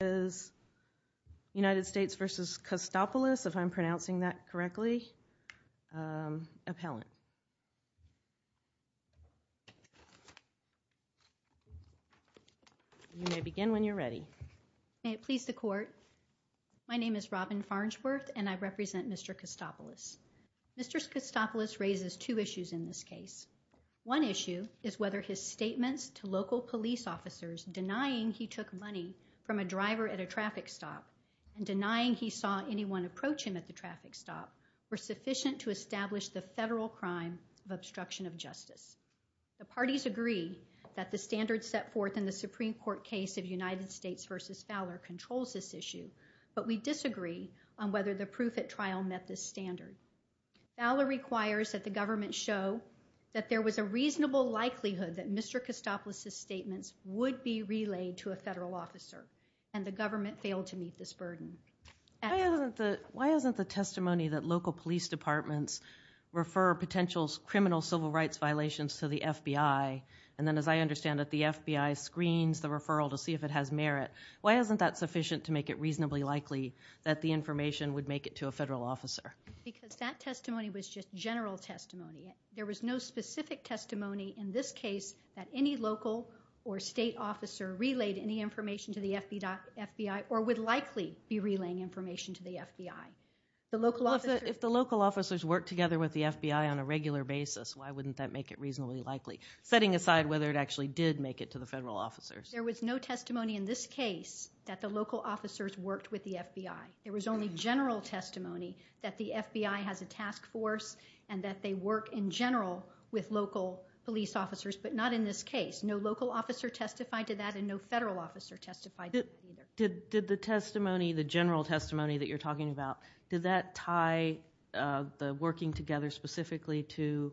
is United States versus Kostopoulos, if I'm pronouncing that correctly, appellant. You may begin when you're ready. May it please the court. My name is Robin Farnsworth and I represent Mr. Kostopoulos. Mr. Kostopoulos raises two issues in this case. One issue is whether his statements to local police officers denying he took money from a driver at a traffic stop and denying he saw anyone approach him at the traffic stop were sufficient to establish the federal crime of obstruction of justice. The parties agree that the standards set forth in the Supreme Court case of United States versus Fowler controls this issue, but we disagree on whether the proof at trial met this standard. Fowler requires that the government show that there was a reasonable likelihood that Mr. Kostopoulos' statements would be relayed to a federal officer and the government failed to meet this burden. Why isn't the testimony that local police departments refer potential criminal civil rights violations to the FBI and then as I understand that the FBI screens the referral to see if it has merit, why isn't that sufficient to make it reasonably likely that the information would make it to a federal officer? Because that in this case that any local or state officer relayed any information to the FBI or would likely be relaying information to the FBI. If the local officers work together with the FBI on a regular basis, why wouldn't that make it reasonably likely? Setting aside whether it actually did make it to the federal officers. There was no testimony in this case that the local officers worked with the FBI. There was only general testimony that the FBI has a task force and that they work in general with local police officers but not in this case. No local officer testified to that and no federal officer testified to that. Did the testimony, the general testimony that you're talking about, did that tie the working together specifically to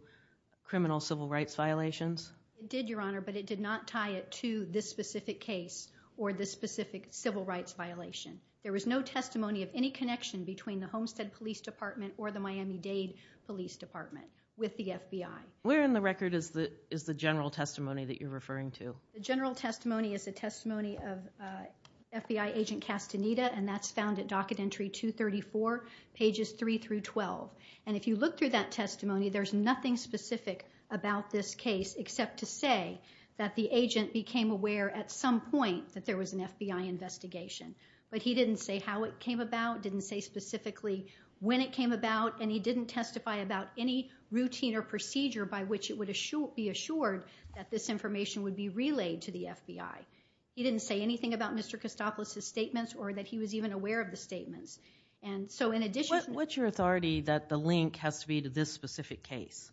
criminal civil rights violations? It did, Your Honor, but it did not tie it to this specific case or this specific civil rights violation. There was no testimony of any connection between the Homestead Police Department or the Miami-Dade Police Department with the FBI. Where in the record is the general testimony that you're referring to? The general testimony is a testimony of FBI Agent Castaneda and that's found at docket entry 234, pages 3 through 12. And if you look through that testimony, there's nothing specific about this case except to say that the agent became aware at some point that there was an FBI investigation. But he didn't say how it came about, didn't say specifically when it came about, and he didn't testify about any routine or procedure by which it would be assured that this information would be relayed to the FBI. He didn't say anything about Mr. Kostopoulos' statements or that he was even aware of the statements. And so in addition... What's your authority that the link has to be to this specific case?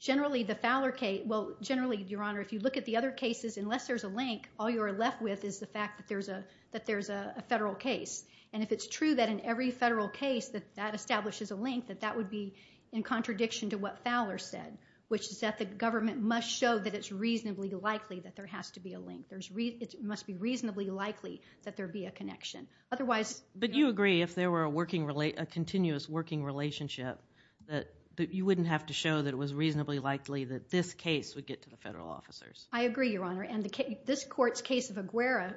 Generally, the Fowler case, well generally, Your Honor, if you look at the other cases, unless there's a link, all you're left with is the fact that there's a federal case. If it's true that in every federal case that that establishes a link, that that would be in contradiction to what Fowler said, which is that the government must show that it's reasonably likely that there has to be a link. It must be reasonably likely that there be a connection. Otherwise... But you agree if there were a continuous working relationship, that you wouldn't have to show that it was reasonably likely that this case would get to the federal officers? I agree, Your Honor, and this court's case of Aguera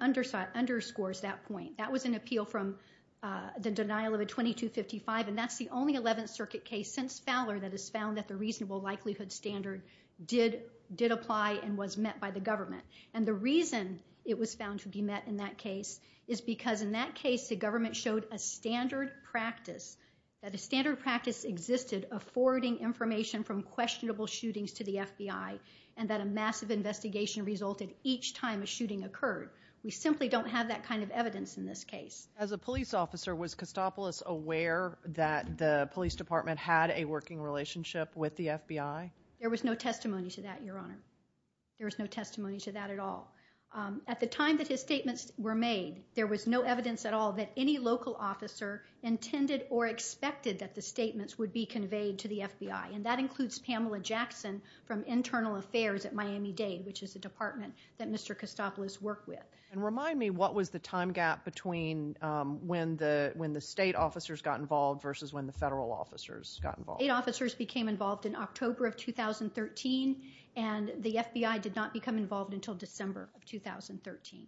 underscores that point. That was an appeal from the denial of a 2255, and that's the only 11th Circuit case since Fowler that has found that the reasonable likelihood standard did apply and was met by the government. And the reason it was found to be met in that case is because in that case, the government showed a standard practice, that a standard practice existed of forwarding information from questionable shootings to the FBI, and that a massive investigation resulted each time a shooting occurred. We simply don't have that kind of evidence in this case. As a police officer, was Costopoulos aware that the police department had a working relationship with the FBI? There was no testimony to that, Your Honor. There was no testimony to that at all. At the time that his statements were made, there was no evidence at all that any local officer intended or expected that the statements would be conveyed to the FBI, and that includes Pamela Jackson from Internal Affairs at Miami-Dade, which is a department that Mr. Costopoulos worked with. And remind me, what was the time gap between when the state officers got involved versus when the federal officers got involved? State officers became involved in October of 2013, and the FBI did not become involved until December of 2013.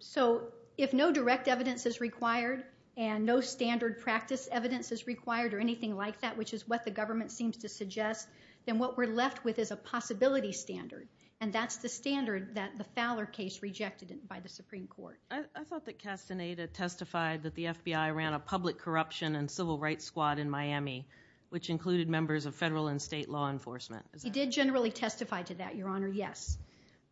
So if no direct evidence is required and no standard practice evidence is required or anything like that, which is what the government seems to suggest, then what we're left with is a possibility standard, and that's the standard that the Fowler case rejected by the Supreme Court. I thought that Castaneda testified that the FBI ran a public corruption and civil rights squad in Miami, which included members of federal and state law enforcement. He did generally testify to that, Your Honor, yes,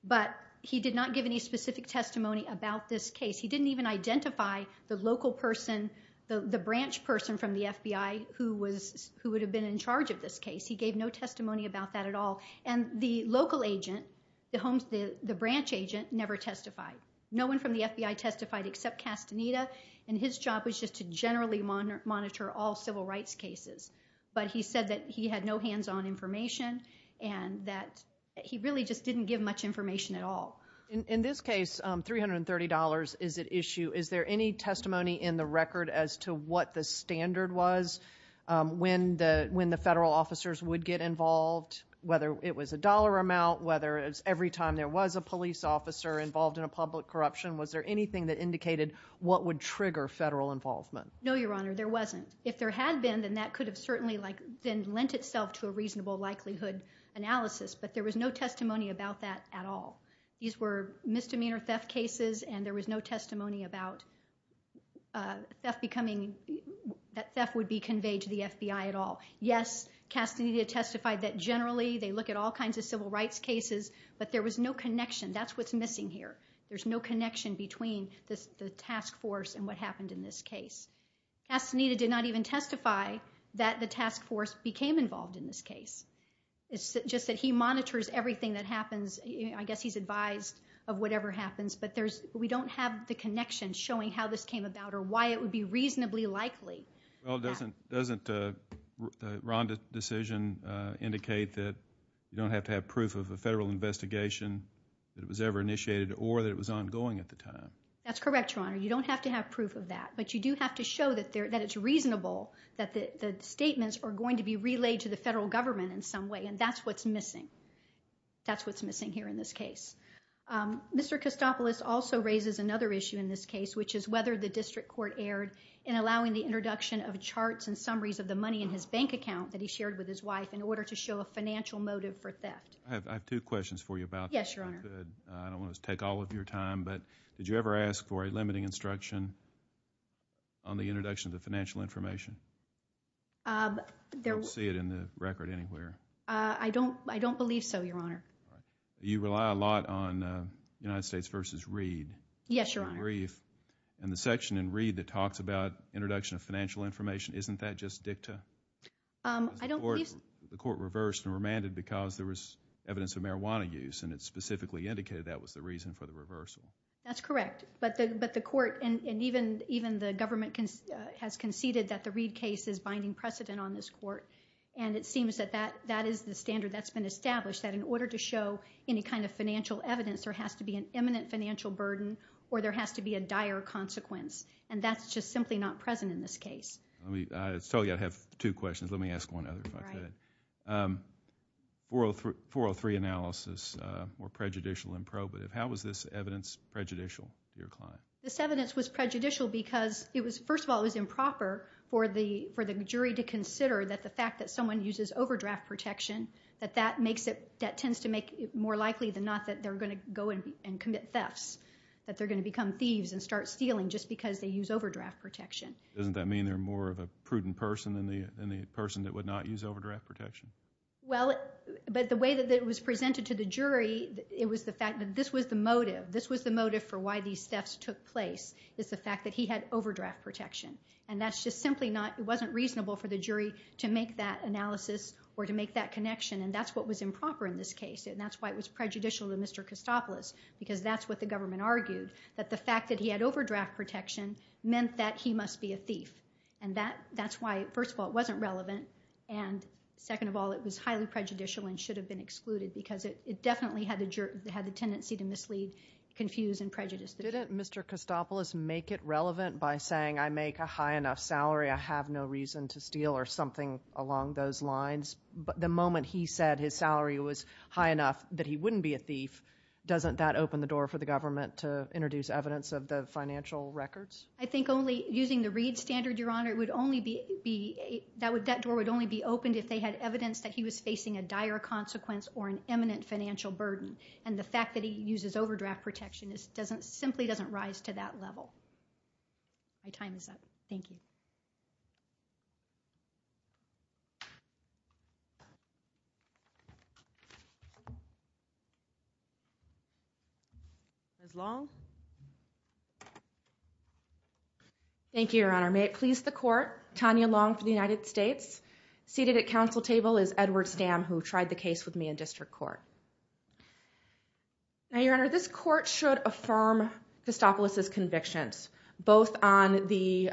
but he did not give any specific testimony about this case. He didn't even identify the local person, the branch person from the FBI who would have been in charge of this case. He gave no testimony about that at all. And the local agent, the branch agent, never testified. No one from the FBI testified except Castaneda, and his job was just to generally monitor all civil rights cases. But he said that he had no hands-on information, and that he really just didn't give much information at all. In this case, $330 is at issue. Is there any testimony in the record as to what the standard was when the federal officers would get involved, whether it was a dollar amount, whether it was every time there was a police officer involved in a public corruption? Was there anything that indicated what would trigger federal involvement? No, Your Honor, there wasn't. If there had been, then that could have certainly lent itself to a reasonable likelihood analysis, but there was no testimony about that at all. These were misdemeanor theft cases, and there was no testimony about theft becoming, that theft would be conveyed to the FBI at all. Yes, Castaneda testified that generally they look at all kinds of civil rights cases, but there was no connection. That's what's missing here. There's no connection between the task force and what happened in this case. Castaneda did not even testify that the task force became involved in this case. It's just that he monitors everything that happens. I guess he's advised of whatever happens, but we don't have the connection showing how this came about or why it would be reasonably likely. Well, doesn't the Rhonda decision indicate that you don't have to have proof of a federal investigation that it was ever initiated or that it was ongoing at the time? That's correct, Your Honor. You don't have to have proof of that, but you do have to show that it's reasonable that the statements are going to be relayed to the federal government in some way, and that's what's missing. That's what's missing here in this case. Mr. Kostopoulos also raises another issue in this case, which is whether the district court erred in allowing the introduction of charts and summaries of the money in his bank account that he shared with his wife in order to show a financial motive for theft. I have two questions for you about that. Yes, Your Honor. I don't want to take all of your time, but did you ever ask for a limiting instruction on the introduction of the financial information? I don't see it in the record anywhere. I don't believe so, Your Honor. You rely a lot on United States v. Reed. Yes, Your Honor. In the section in Reed that talks about introduction of financial information, isn't that just dicta? The court reversed and remanded because there was evidence of marijuana use, and it specifically indicated that was the reason for the reversal. That's correct, but the court and even the government has conceded that the Reed case is binding precedent on this court, and it seems that that is the standard that's been established, that in order to show any kind of financial evidence, there has to be an imminent financial burden or there has to be a dire consequence, and that's just simply not present in this case. I told you I have two questions. Let me ask one other. 403 analysis or prejudicial and probative. How was this evidence prejudicial to your client? This evidence was prejudicial because, first of all, it was improper for the jury to consider that the fact that someone uses overdraft protection, that tends to make it more likely than not that they're going to go and commit thefts, that they're going to become thieves and start stealing just because they use overdraft protection. Doesn't that mean they're more of a prudent person than the person that would not use overdraft protection? Well, but the way that it was presented to the jury, it was the fact that this was the motive. This was the motive for why these thefts took place, is the fact that he had overdraft protection, and that's just simply not, it wasn't reasonable for the jury to make that analysis or to make that connection, and that's what was improper in this case, and that's why it was prejudicial to Mr. Costopoulos, because that's what the government argued, that the fact that he had overdraft protection meant that he must be a thief, and that's why, first of all, it wasn't relevant, and second of all, it was highly prejudicial and should have been excluded because it definitely had the tendency to mislead, confuse, and prejudice. Didn't Mr. Costopoulos make it relevant by saying I make a high enough salary, I have no reason to steal or something along those lines, but the moment he said his salary was high enough that he wouldn't be a thief, doesn't that open the door for the government to introduce evidence of the financial records? I think only using the Reed standard, Your Honor, it would only be, that door would only be opened if they had evidence that he was facing a dire consequence or an imminent financial burden, and the fact that he uses overdraft protection simply doesn't rise to that level. My time is up. Thank you. Ms. Long. Thank you, Your Honor. May it please the court, Tanya Long for the United States. Seated at council table is Edward Stam, who tried the case with me in district court. Now, Your Honor, this court should affirm Costopoulos' convictions, both on the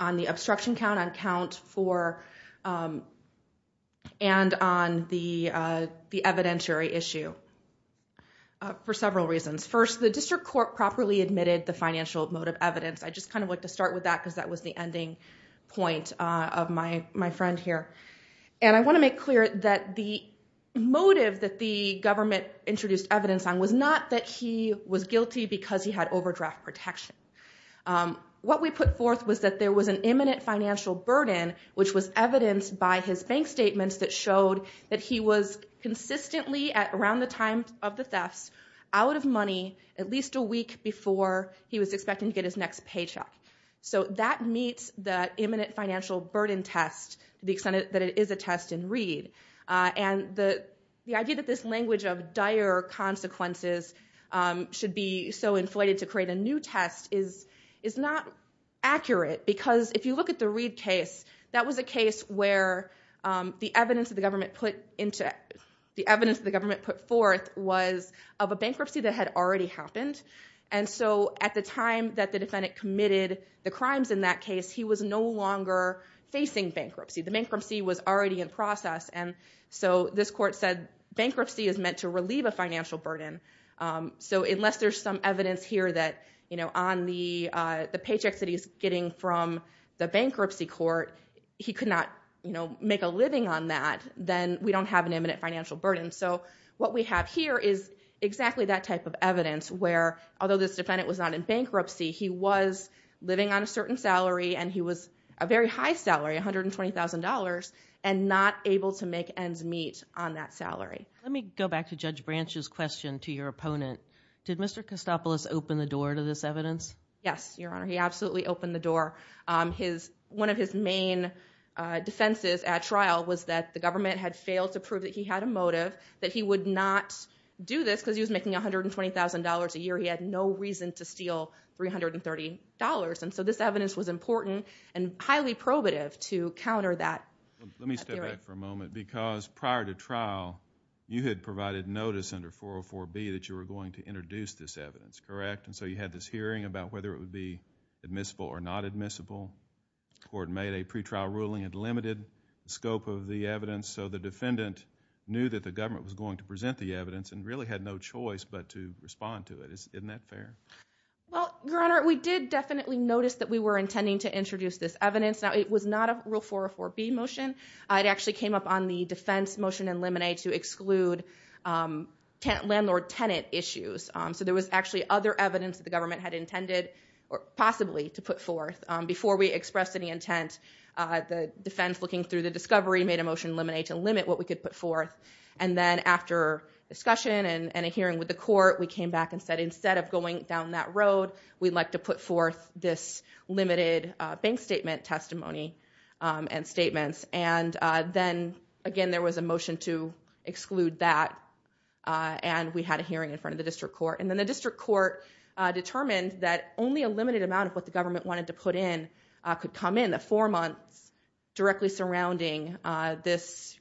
on the obstruction count, on count four, and on the evidentiary issue for several reasons. First, the district court properly admitted the financial motive evidence. I just kind of like to start with that because that was the ending point of my friend here, and I want to make clear that the motive that the government introduced evidence on was not that he was guilty because he had overdraft protection. What we put forth was that there was an imminent financial burden, which was evidenced by his bank statements that showed that he was consistently, around the time of the thefts, out of money at least a week before he was expecting to get his paycheck. So that meets the imminent financial burden test to the extent that it is a test in Reed. And the idea that this language of dire consequences should be so inflated to create a new test is not accurate because if you look at the Reed case, that was a case where the evidence that the government put forth was of a bankruptcy that had already happened. And so at the time that defendant committed the crimes in that case, he was no longer facing bankruptcy. The bankruptcy was already in process, and so this court said bankruptcy is meant to relieve a financial burden. So unless there's some evidence here that on the paychecks that he's getting from the bankruptcy court, he could not make a living on that, then we don't have an imminent financial burden. So what we have here is exactly that type of evidence where although this defendant was not in bankruptcy, he was living on a certain salary, and he was a very high salary, $120,000, and not able to make ends meet on that salary. Let me go back to Judge Branch's question to your opponent. Did Mr. Costopoulos open the door to this evidence? Yes, Your Honor, he absolutely opened the door. One of his main defenses at trial was that the government had failed to prove that he had a motive, that he would not do this because he was making $120,000 a year. He had no reason to steal $330. And so this evidence was important and highly probative to counter that theory. Let me step back for a moment because prior to trial, you had provided notice under 404B that you were going to introduce this evidence, correct? And so you had this hearing about whether it would be admissible or not admissible. The court made a pretrial ruling. It limited the scope of the evidence, so the defendant knew that the government was going to present the evidence and really had no choice but to respond to it. Isn't that fair? Well, Your Honor, we did definitely notice that we were intending to introduce this evidence. Now, it was not a Rule 404B motion. It actually came up on the defense motion in Lemonade to exclude landlord-tenant issues. So there was actually other evidence that the government had intended or possibly to put forth. Before we could put forth, and then after discussion and a hearing with the court, we came back and said instead of going down that road, we'd like to put forth this limited bank statement testimony and statements. And then, again, there was a motion to exclude that. And we had a hearing in front of the district court. And then the district court determined that only a limited amount of what the government wanted to put in could come in the four months directly surrounding this,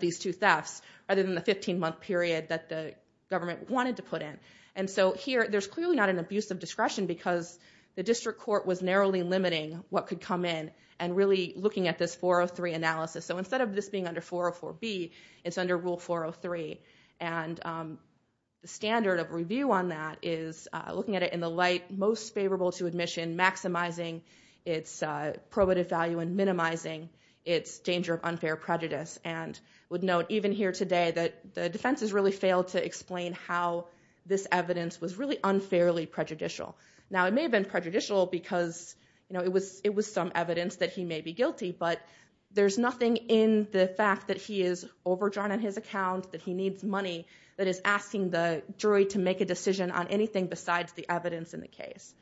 these two thefts, rather than the 15-month period that the government wanted to put in. And so here, there's clearly not an abuse of discretion because the district court was narrowly limiting what could come in and really looking at this 403 analysis. So instead of this being under 404B, it's under Rule 403. And the standard of review on that is looking at it in the light most favorable to admission, maximizing its probative value and minimizing its danger of unfair prejudice. And I would note, even here today, that the defense has really failed to explain how this evidence was really unfairly prejudicial. Now, it may have been prejudicial because it was some evidence that he may be guilty. But there's nothing in the fact that he is overdrawn on his account, that he needs money, that is asking the jury to make a decision on anything besides the evidence in the case.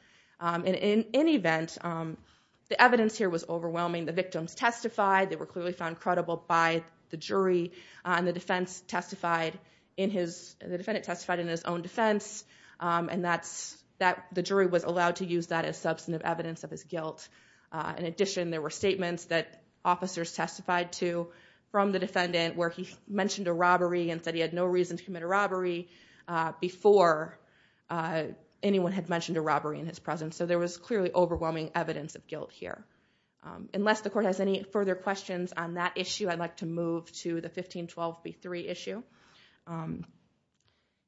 In any event, the evidence here was overwhelming. The victims testified. They were clearly found credible by the jury. And the defense testified in his, the defendant testified in his own defense. And that's, that the jury was allowed to use that as substantive evidence of his guilt. In addition, there were statements that officers testified to from the defendant where he mentioned a robbery and said he had no reason to commit a robbery before anyone had mentioned a robbery in his presence. So there was clearly overwhelming evidence of guilt here. Unless the court has any further questions on that issue, I'd like to move to the 1512b3 issue.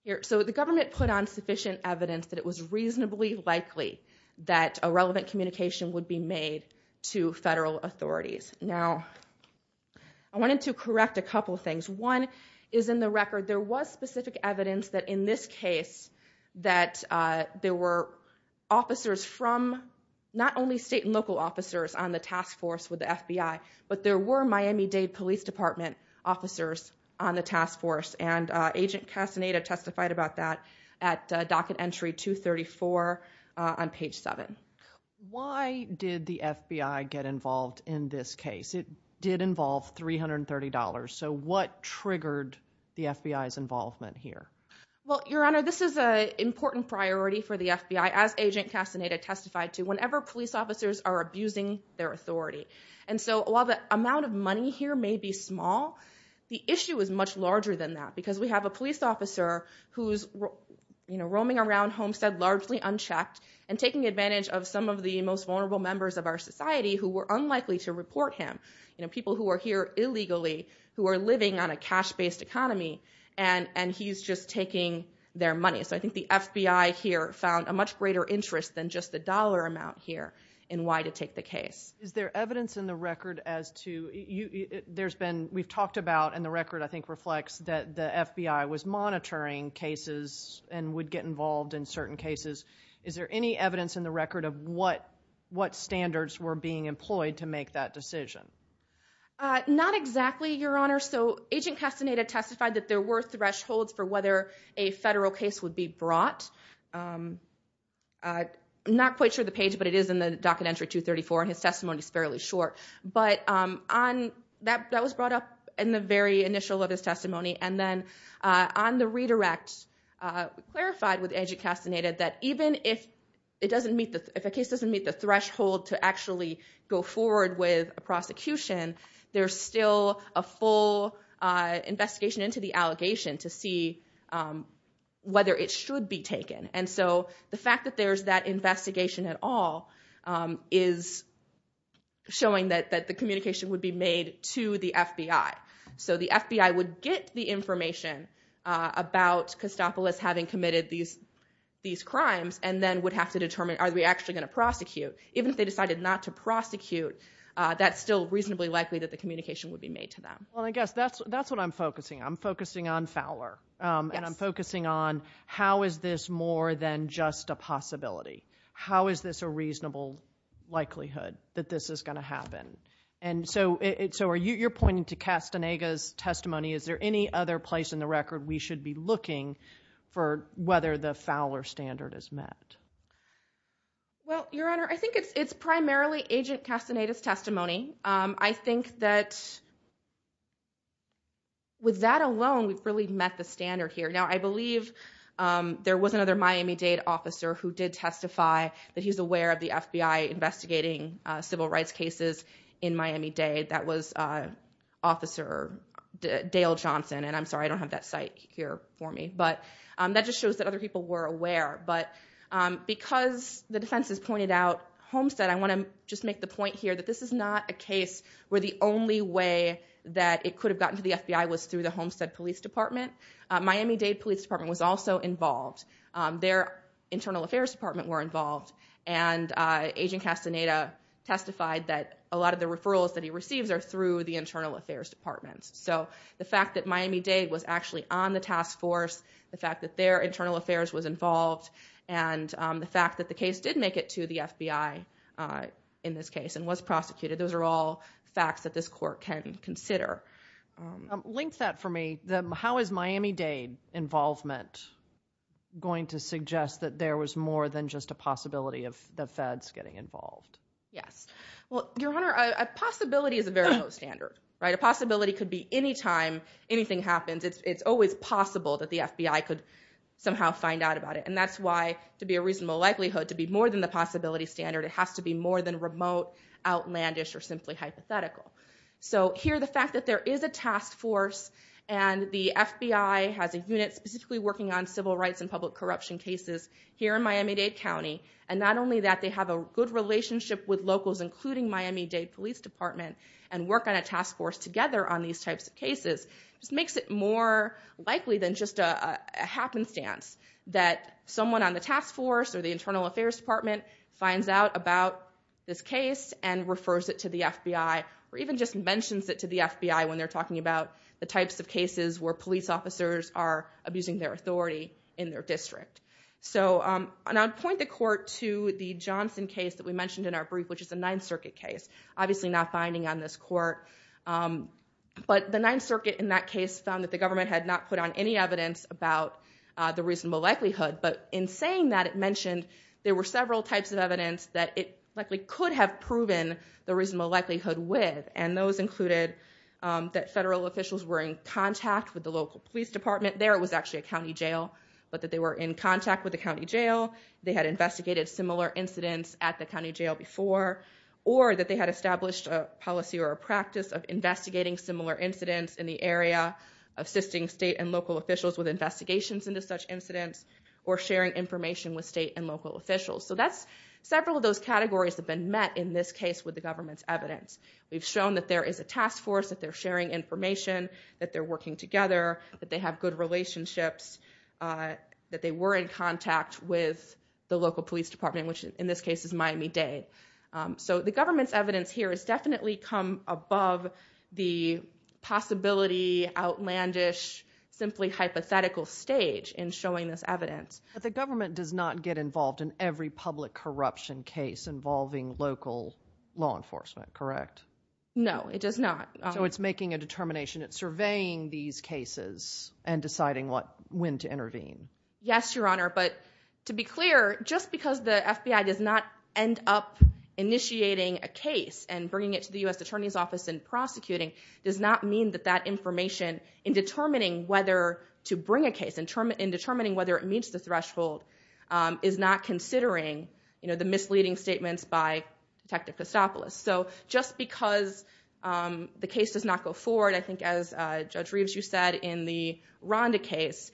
Here, so the government put on sufficient evidence that it was reasonably likely that a relevant communication would be made to federal authorities. Now, I wanted to correct a couple things. One is in the record, there was specific evidence that in this case that there were officers from, not only state and local officers on the task force with the FBI, but there were Miami-Dade Police Department officers on the task force. And Agent Castaneda testified about that at docket entry 234 on page 7. Why did the FBI get involved in this case? It did involve $330. So what triggered the FBI's involvement? Your Honor, this is an important priority for the FBI, as Agent Castaneda testified to, whenever police officers are abusing their authority. And so while the amount of money here may be small, the issue is much larger than that. Because we have a police officer who's roaming around Homestead largely unchecked and taking advantage of some of the most vulnerable members of our society who were unlikely to report him. People who are here illegally, who are living on a cash-based economy, and he's just taking their money. So I think the FBI here found a much greater interest than just the dollar amount here in why to take the case. Is there evidence in the record as to, there's been, we've talked about, and the record I think reflects that the FBI was monitoring cases and would get involved in certain cases. Is there any evidence in the record of what standards were being employed to make that decision? Not exactly, Your Honor. So Agent Castaneda testified that there were thresholds for whether a federal case would be brought. I'm not quite sure the page, but it is in the docket entry 234, and his testimony is fairly short. But that was brought up in the very initial of his testimony. And then on the redirect, we clarified with Agent Castaneda that even if a case doesn't meet the threshold to actually go forward with a prosecution, there's still a full investigation into the allegation to see whether it should be taken. And so the fact that there's that investigation at all is showing that the communication would be made to the FBI. So the FBI would get the information about Costopoulos having committed these crimes, and then would have to determine, are we actually going to prosecute? Even if they decided not to prosecute, that's still reasonably likely that the communication would be made to them. Well, I guess that's what I'm focusing on. I'm focusing on Fowler, and I'm focusing on how is this more than just a possibility? How is this a reasonable likelihood that this is going to happen? And so you're pointing to Castaneda's testimony. Is there any other place in the record we should be looking for whether the Fowler standard is met? Well, Your Honor, I think it's primarily Agent Castaneda's testimony. I think that with that alone, we've really met the standard here. Now, I believe there was another Miami Dade officer who did testify that he's aware of the FBI investigating civil rights cases in Miami Dade. That was Officer Dale Johnson. And I'm sorry, I don't have that site here for me. But that just shows that other people were aware. But because the defense has pointed out Homestead, I want to just make the point here that this is not a case where the only way that it could have gotten to the FBI was through the Homestead Police Department. Miami Dade Police Department was also involved. Their Internal Affairs Department were involved. And Agent Castaneda testified that a lot of the referrals that he receives are through the Internal Affairs Department. So the fact that Miami Dade was actually on the task force, the fact that their Internal Affairs was involved, and the fact that the case did make it to the FBI in this case and was prosecuted, those are all facts that this court can consider. Link that for me. How is Miami Dade involvement going to suggest that there was more than just a possibility of the feds getting involved? Yes. Well, Your Honor, a possibility is a very low standard, right? A possibility could be anytime anything happens. It's always possible that the FBI could somehow find out about it. And that's why, to be a reasonable likelihood, to be more than the possibility standard, it has to be more than remote, outlandish, or simply hypothetical. So here, the fact that there is a task force and the FBI has a unit specifically working on And not only that, they have a good relationship with locals, including Miami Dade Police Department, and work on a task force together on these types of cases. This makes it more likely than just a happenstance that someone on the task force or the Internal Affairs Department finds out about this case and refers it to the FBI, or even just mentions it to the FBI when they're talking about the types of cases where police officers are abusing their authority in their district. So, and I'd point the court to the Johnson case that we mentioned in our brief, which is a Ninth Circuit case, obviously not binding on this court. But the Ninth Circuit, in that case, found that the government had not put on any evidence about the reasonable likelihood. But in saying that, it mentioned there were several types of evidence that it likely could have proven the reasonable likelihood with. And those included that federal officials were in contact with the local police department, there it was actually a county jail, but that they were in contact with the county jail, they had investigated similar incidents at the county jail before, or that they had established a policy or a practice of investigating similar incidents in the area, assisting state and local officials with investigations into such incidents, or sharing information with state and local officials. So that's, several of those categories have been met in this case with the government's evidence. We've shown that there is a task force, that they're sharing information, that they're good relationships, that they were in contact with the local police department, which in this case is Miami-Dade. So the government's evidence here has definitely come above the possibility, outlandish, simply hypothetical stage in showing this evidence. But the government does not get involved in every public corruption case involving local law enforcement, correct? No, it does not. So it's making a determination, it's surveying these cases and deciding when to intervene. Yes, Your Honor, but to be clear, just because the FBI does not end up initiating a case and bringing it to the U.S. Attorney's Office and prosecuting, does not mean that that information in determining whether to bring a case, in determining whether it meets the threshold, is not considering, you know, the misleading statements by Detective Costopoulos. So just because the case does not go forward, I think as Judge Reeves, you said in the Ronda case,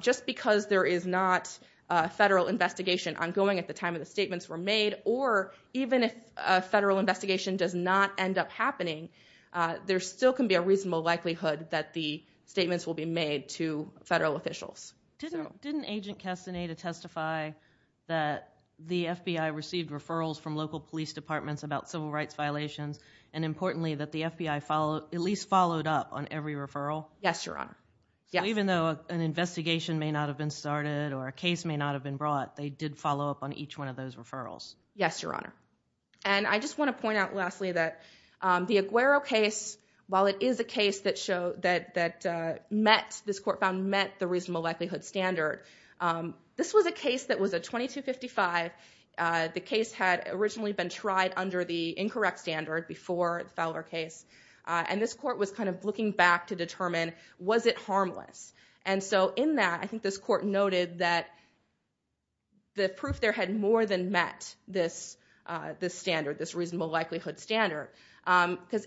just because there is not a federal investigation ongoing at the time of the statements were made, or even if a federal investigation does not end up happening, there still can be a reasonable likelihood that the statements will be made to federal officials. Didn't Agent Castaneda testify that the FBI received referrals from local police departments about civil rights violations? And importantly, that the FBI at least followed up on every referral? Yes, Your Honor. So even though an investigation may not have been started, or a case may not have been brought, they did follow up on each one of those referrals? Yes, Your Honor. And I just want to point out lastly, that the Aguero case, while it is a case that met, this court found met the reasonable likelihood standard. This was a case that was a 2255. The case had originally been tried under the incorrect standard before the Fowler case. And this court was kind of looking back to determine, was it harmless? And so in that, I think this court noted that the proof there had more than met this standard, this reasonable likelihood standard. Because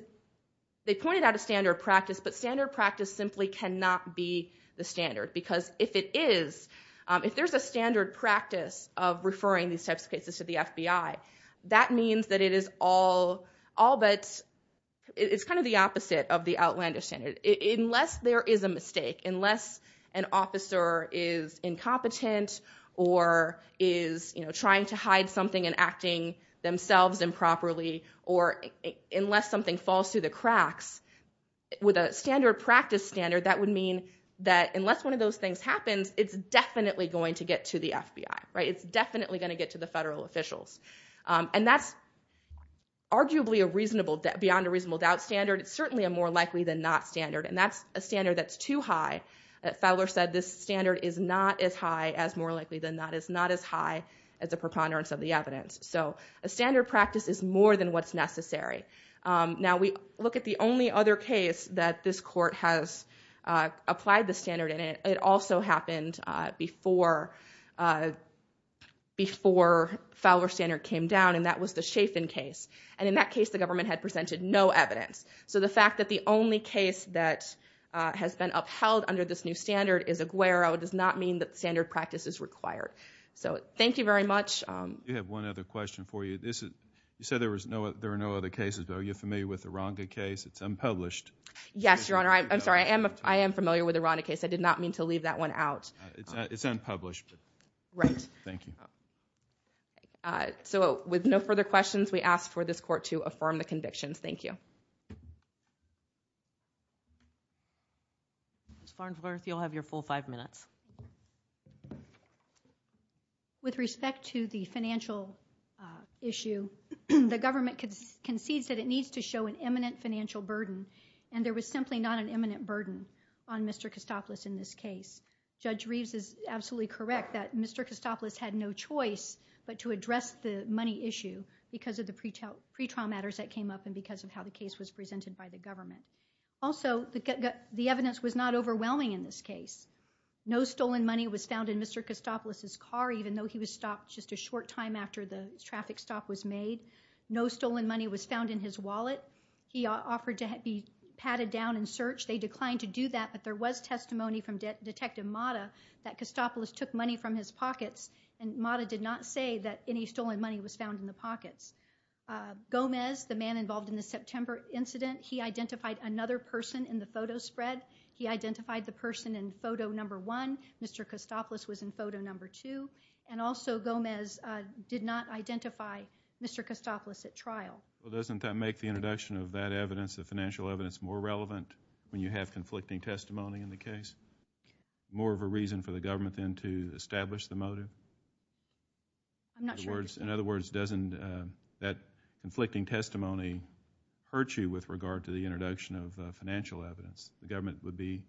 they pointed out a standard practice, but standard practice simply cannot be the standard. Because if it is, if there's a standard practice of referring these types of cases to the FBI, that means that it is all but, it's kind of the opposite of the outlandish standard. Unless there is a mistake, unless an officer is incompetent, or is trying to hide something and acting themselves improperly, or unless something falls through the cracks, with a standard practice standard, that would mean that unless one of those things happens, it's definitely going to get to the FBI, right? It's definitely going to get to the federal officials. And that's arguably a reasonable, beyond a reasonable doubt, standard. It's certainly a more likely than not standard. And that's a standard that's too high. Fowler said this standard is not as high as more likely than not, it's not as high as a preponderance of the evidence. So a standard practice is more than what's necessary. Now we look at the only other case that this court has applied the standard, and it also happened before Fowler's standard came down, and that was the Chaffin case. And in that case, the government had presented no evidence. So the fact that the only case that has been upheld under this new standard is Aguero, does not mean that standard practice is required. So thank you very much. We have one other question for you. You said there are no other cases, but are you familiar with the Ranga case? It's unpublished. Yes, Your Honor. I'm sorry. I am familiar with the Ranga case. I did not mean to leave that one out. It's unpublished. Right. Thank you. So with no further questions, we ask for this court to affirm the convictions. Thank you. Ms. Farnsworth, you'll have your full five minutes. With respect to the financial issue, the government concedes that it needs to show an imminent financial burden, and there was simply not an imminent burden on Mr. Kostopoulos in this case. Judge Reeves is absolutely correct that Mr. Kostopoulos had no choice but to address the money issue because of the pretrial matters that came up and because of how the case was presented by the government. Also, the evidence was not overwhelming in this case. No stolen money was found in Mr. Kostopoulos' car, even though he was stopped just a short time after the traffic stop was made. No stolen money was found in his wallet. He offered to be patted down and searched. They declined to do that, but there was testimony from Detective Mata that Kostopoulos took money from his pockets, and Mata did not say that any stolen money was found in the pockets. Gomez, the man involved in the September incident, he identified another person in the photo spread. He identified the person in photo number one. Mr. Kostopoulos was in photo number two, and also Gomez did not identify Mr. Kostopoulos at trial. Well, doesn't that make the introduction of that evidence, the financial evidence, more relevant when you have conflicting testimony in the case? More of a reason for the government then to establish the motive? I'm not sure. In other words, doesn't that conflicting testimony hurt you with regard to the introduction of financial evidence? The government would be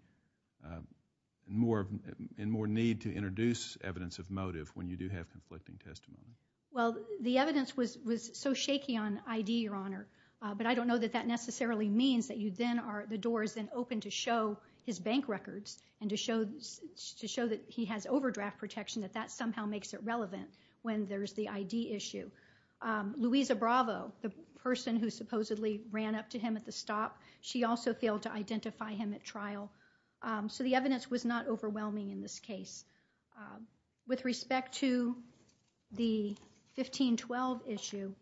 in more need to introduce evidence of motive when you do have conflicting testimony. Well, the evidence was so shaky on ID, Your Honor, but I don't know that that necessarily means that the door is then open to show his bank records and to show that he has overdraft protection, that that somehow makes it relevant when there's the ID issue. Louisa Bravo, the person who supposedly ran up to him at the stop, she also failed to identify him at trial. So the evidence was not overwhelming in this case. With respect to the 1512 issue,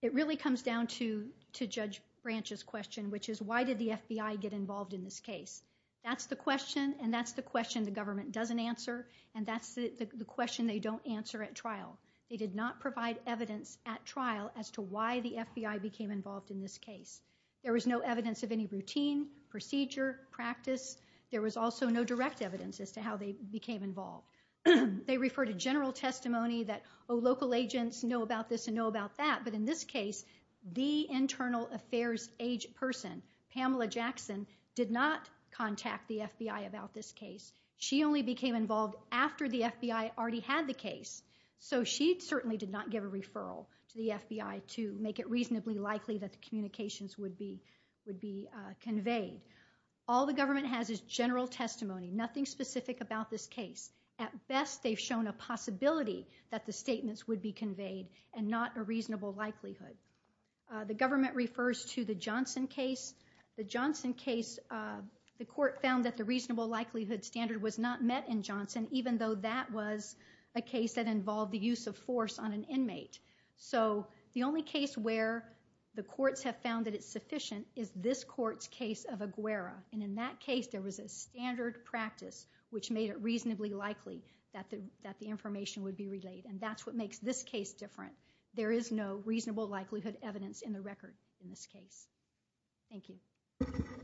it really comes down to Judge Branch's question, which is, why did the FBI get involved in this case? That's the question, and that's the question the government doesn't answer, and that's the question they don't answer at trial. They did not provide evidence at trial as to why the FBI became involved in this case. There was no evidence of any routine, procedure, practice. There was also no direct evidence as to how they became involved. They referred to general testimony that, oh, local agents know about this but in this case, the internal affairs age person, Pamela Jackson, did not contact the FBI about this case. She only became involved after the FBI already had the case. So she certainly did not give a referral to the FBI to make it reasonably likely that the communications would be conveyed. All the government has is general testimony, nothing specific about this case. At best, they've shown a possibility that the statements would be conveyed and not a reasonable likelihood. The government refers to the Johnson case. The Johnson case, the court found that the reasonable likelihood standard was not met in Johnson, even though that was a case that involved the use of force on an inmate. So the only case where the courts have found that it's sufficient is this court's case of Aguera, and in that case, there was a standard practice which made it reasonably likely that the information would be relayed, and that's what makes this case different. There is no reasonable likelihood evidence in the record in this case. Thank you.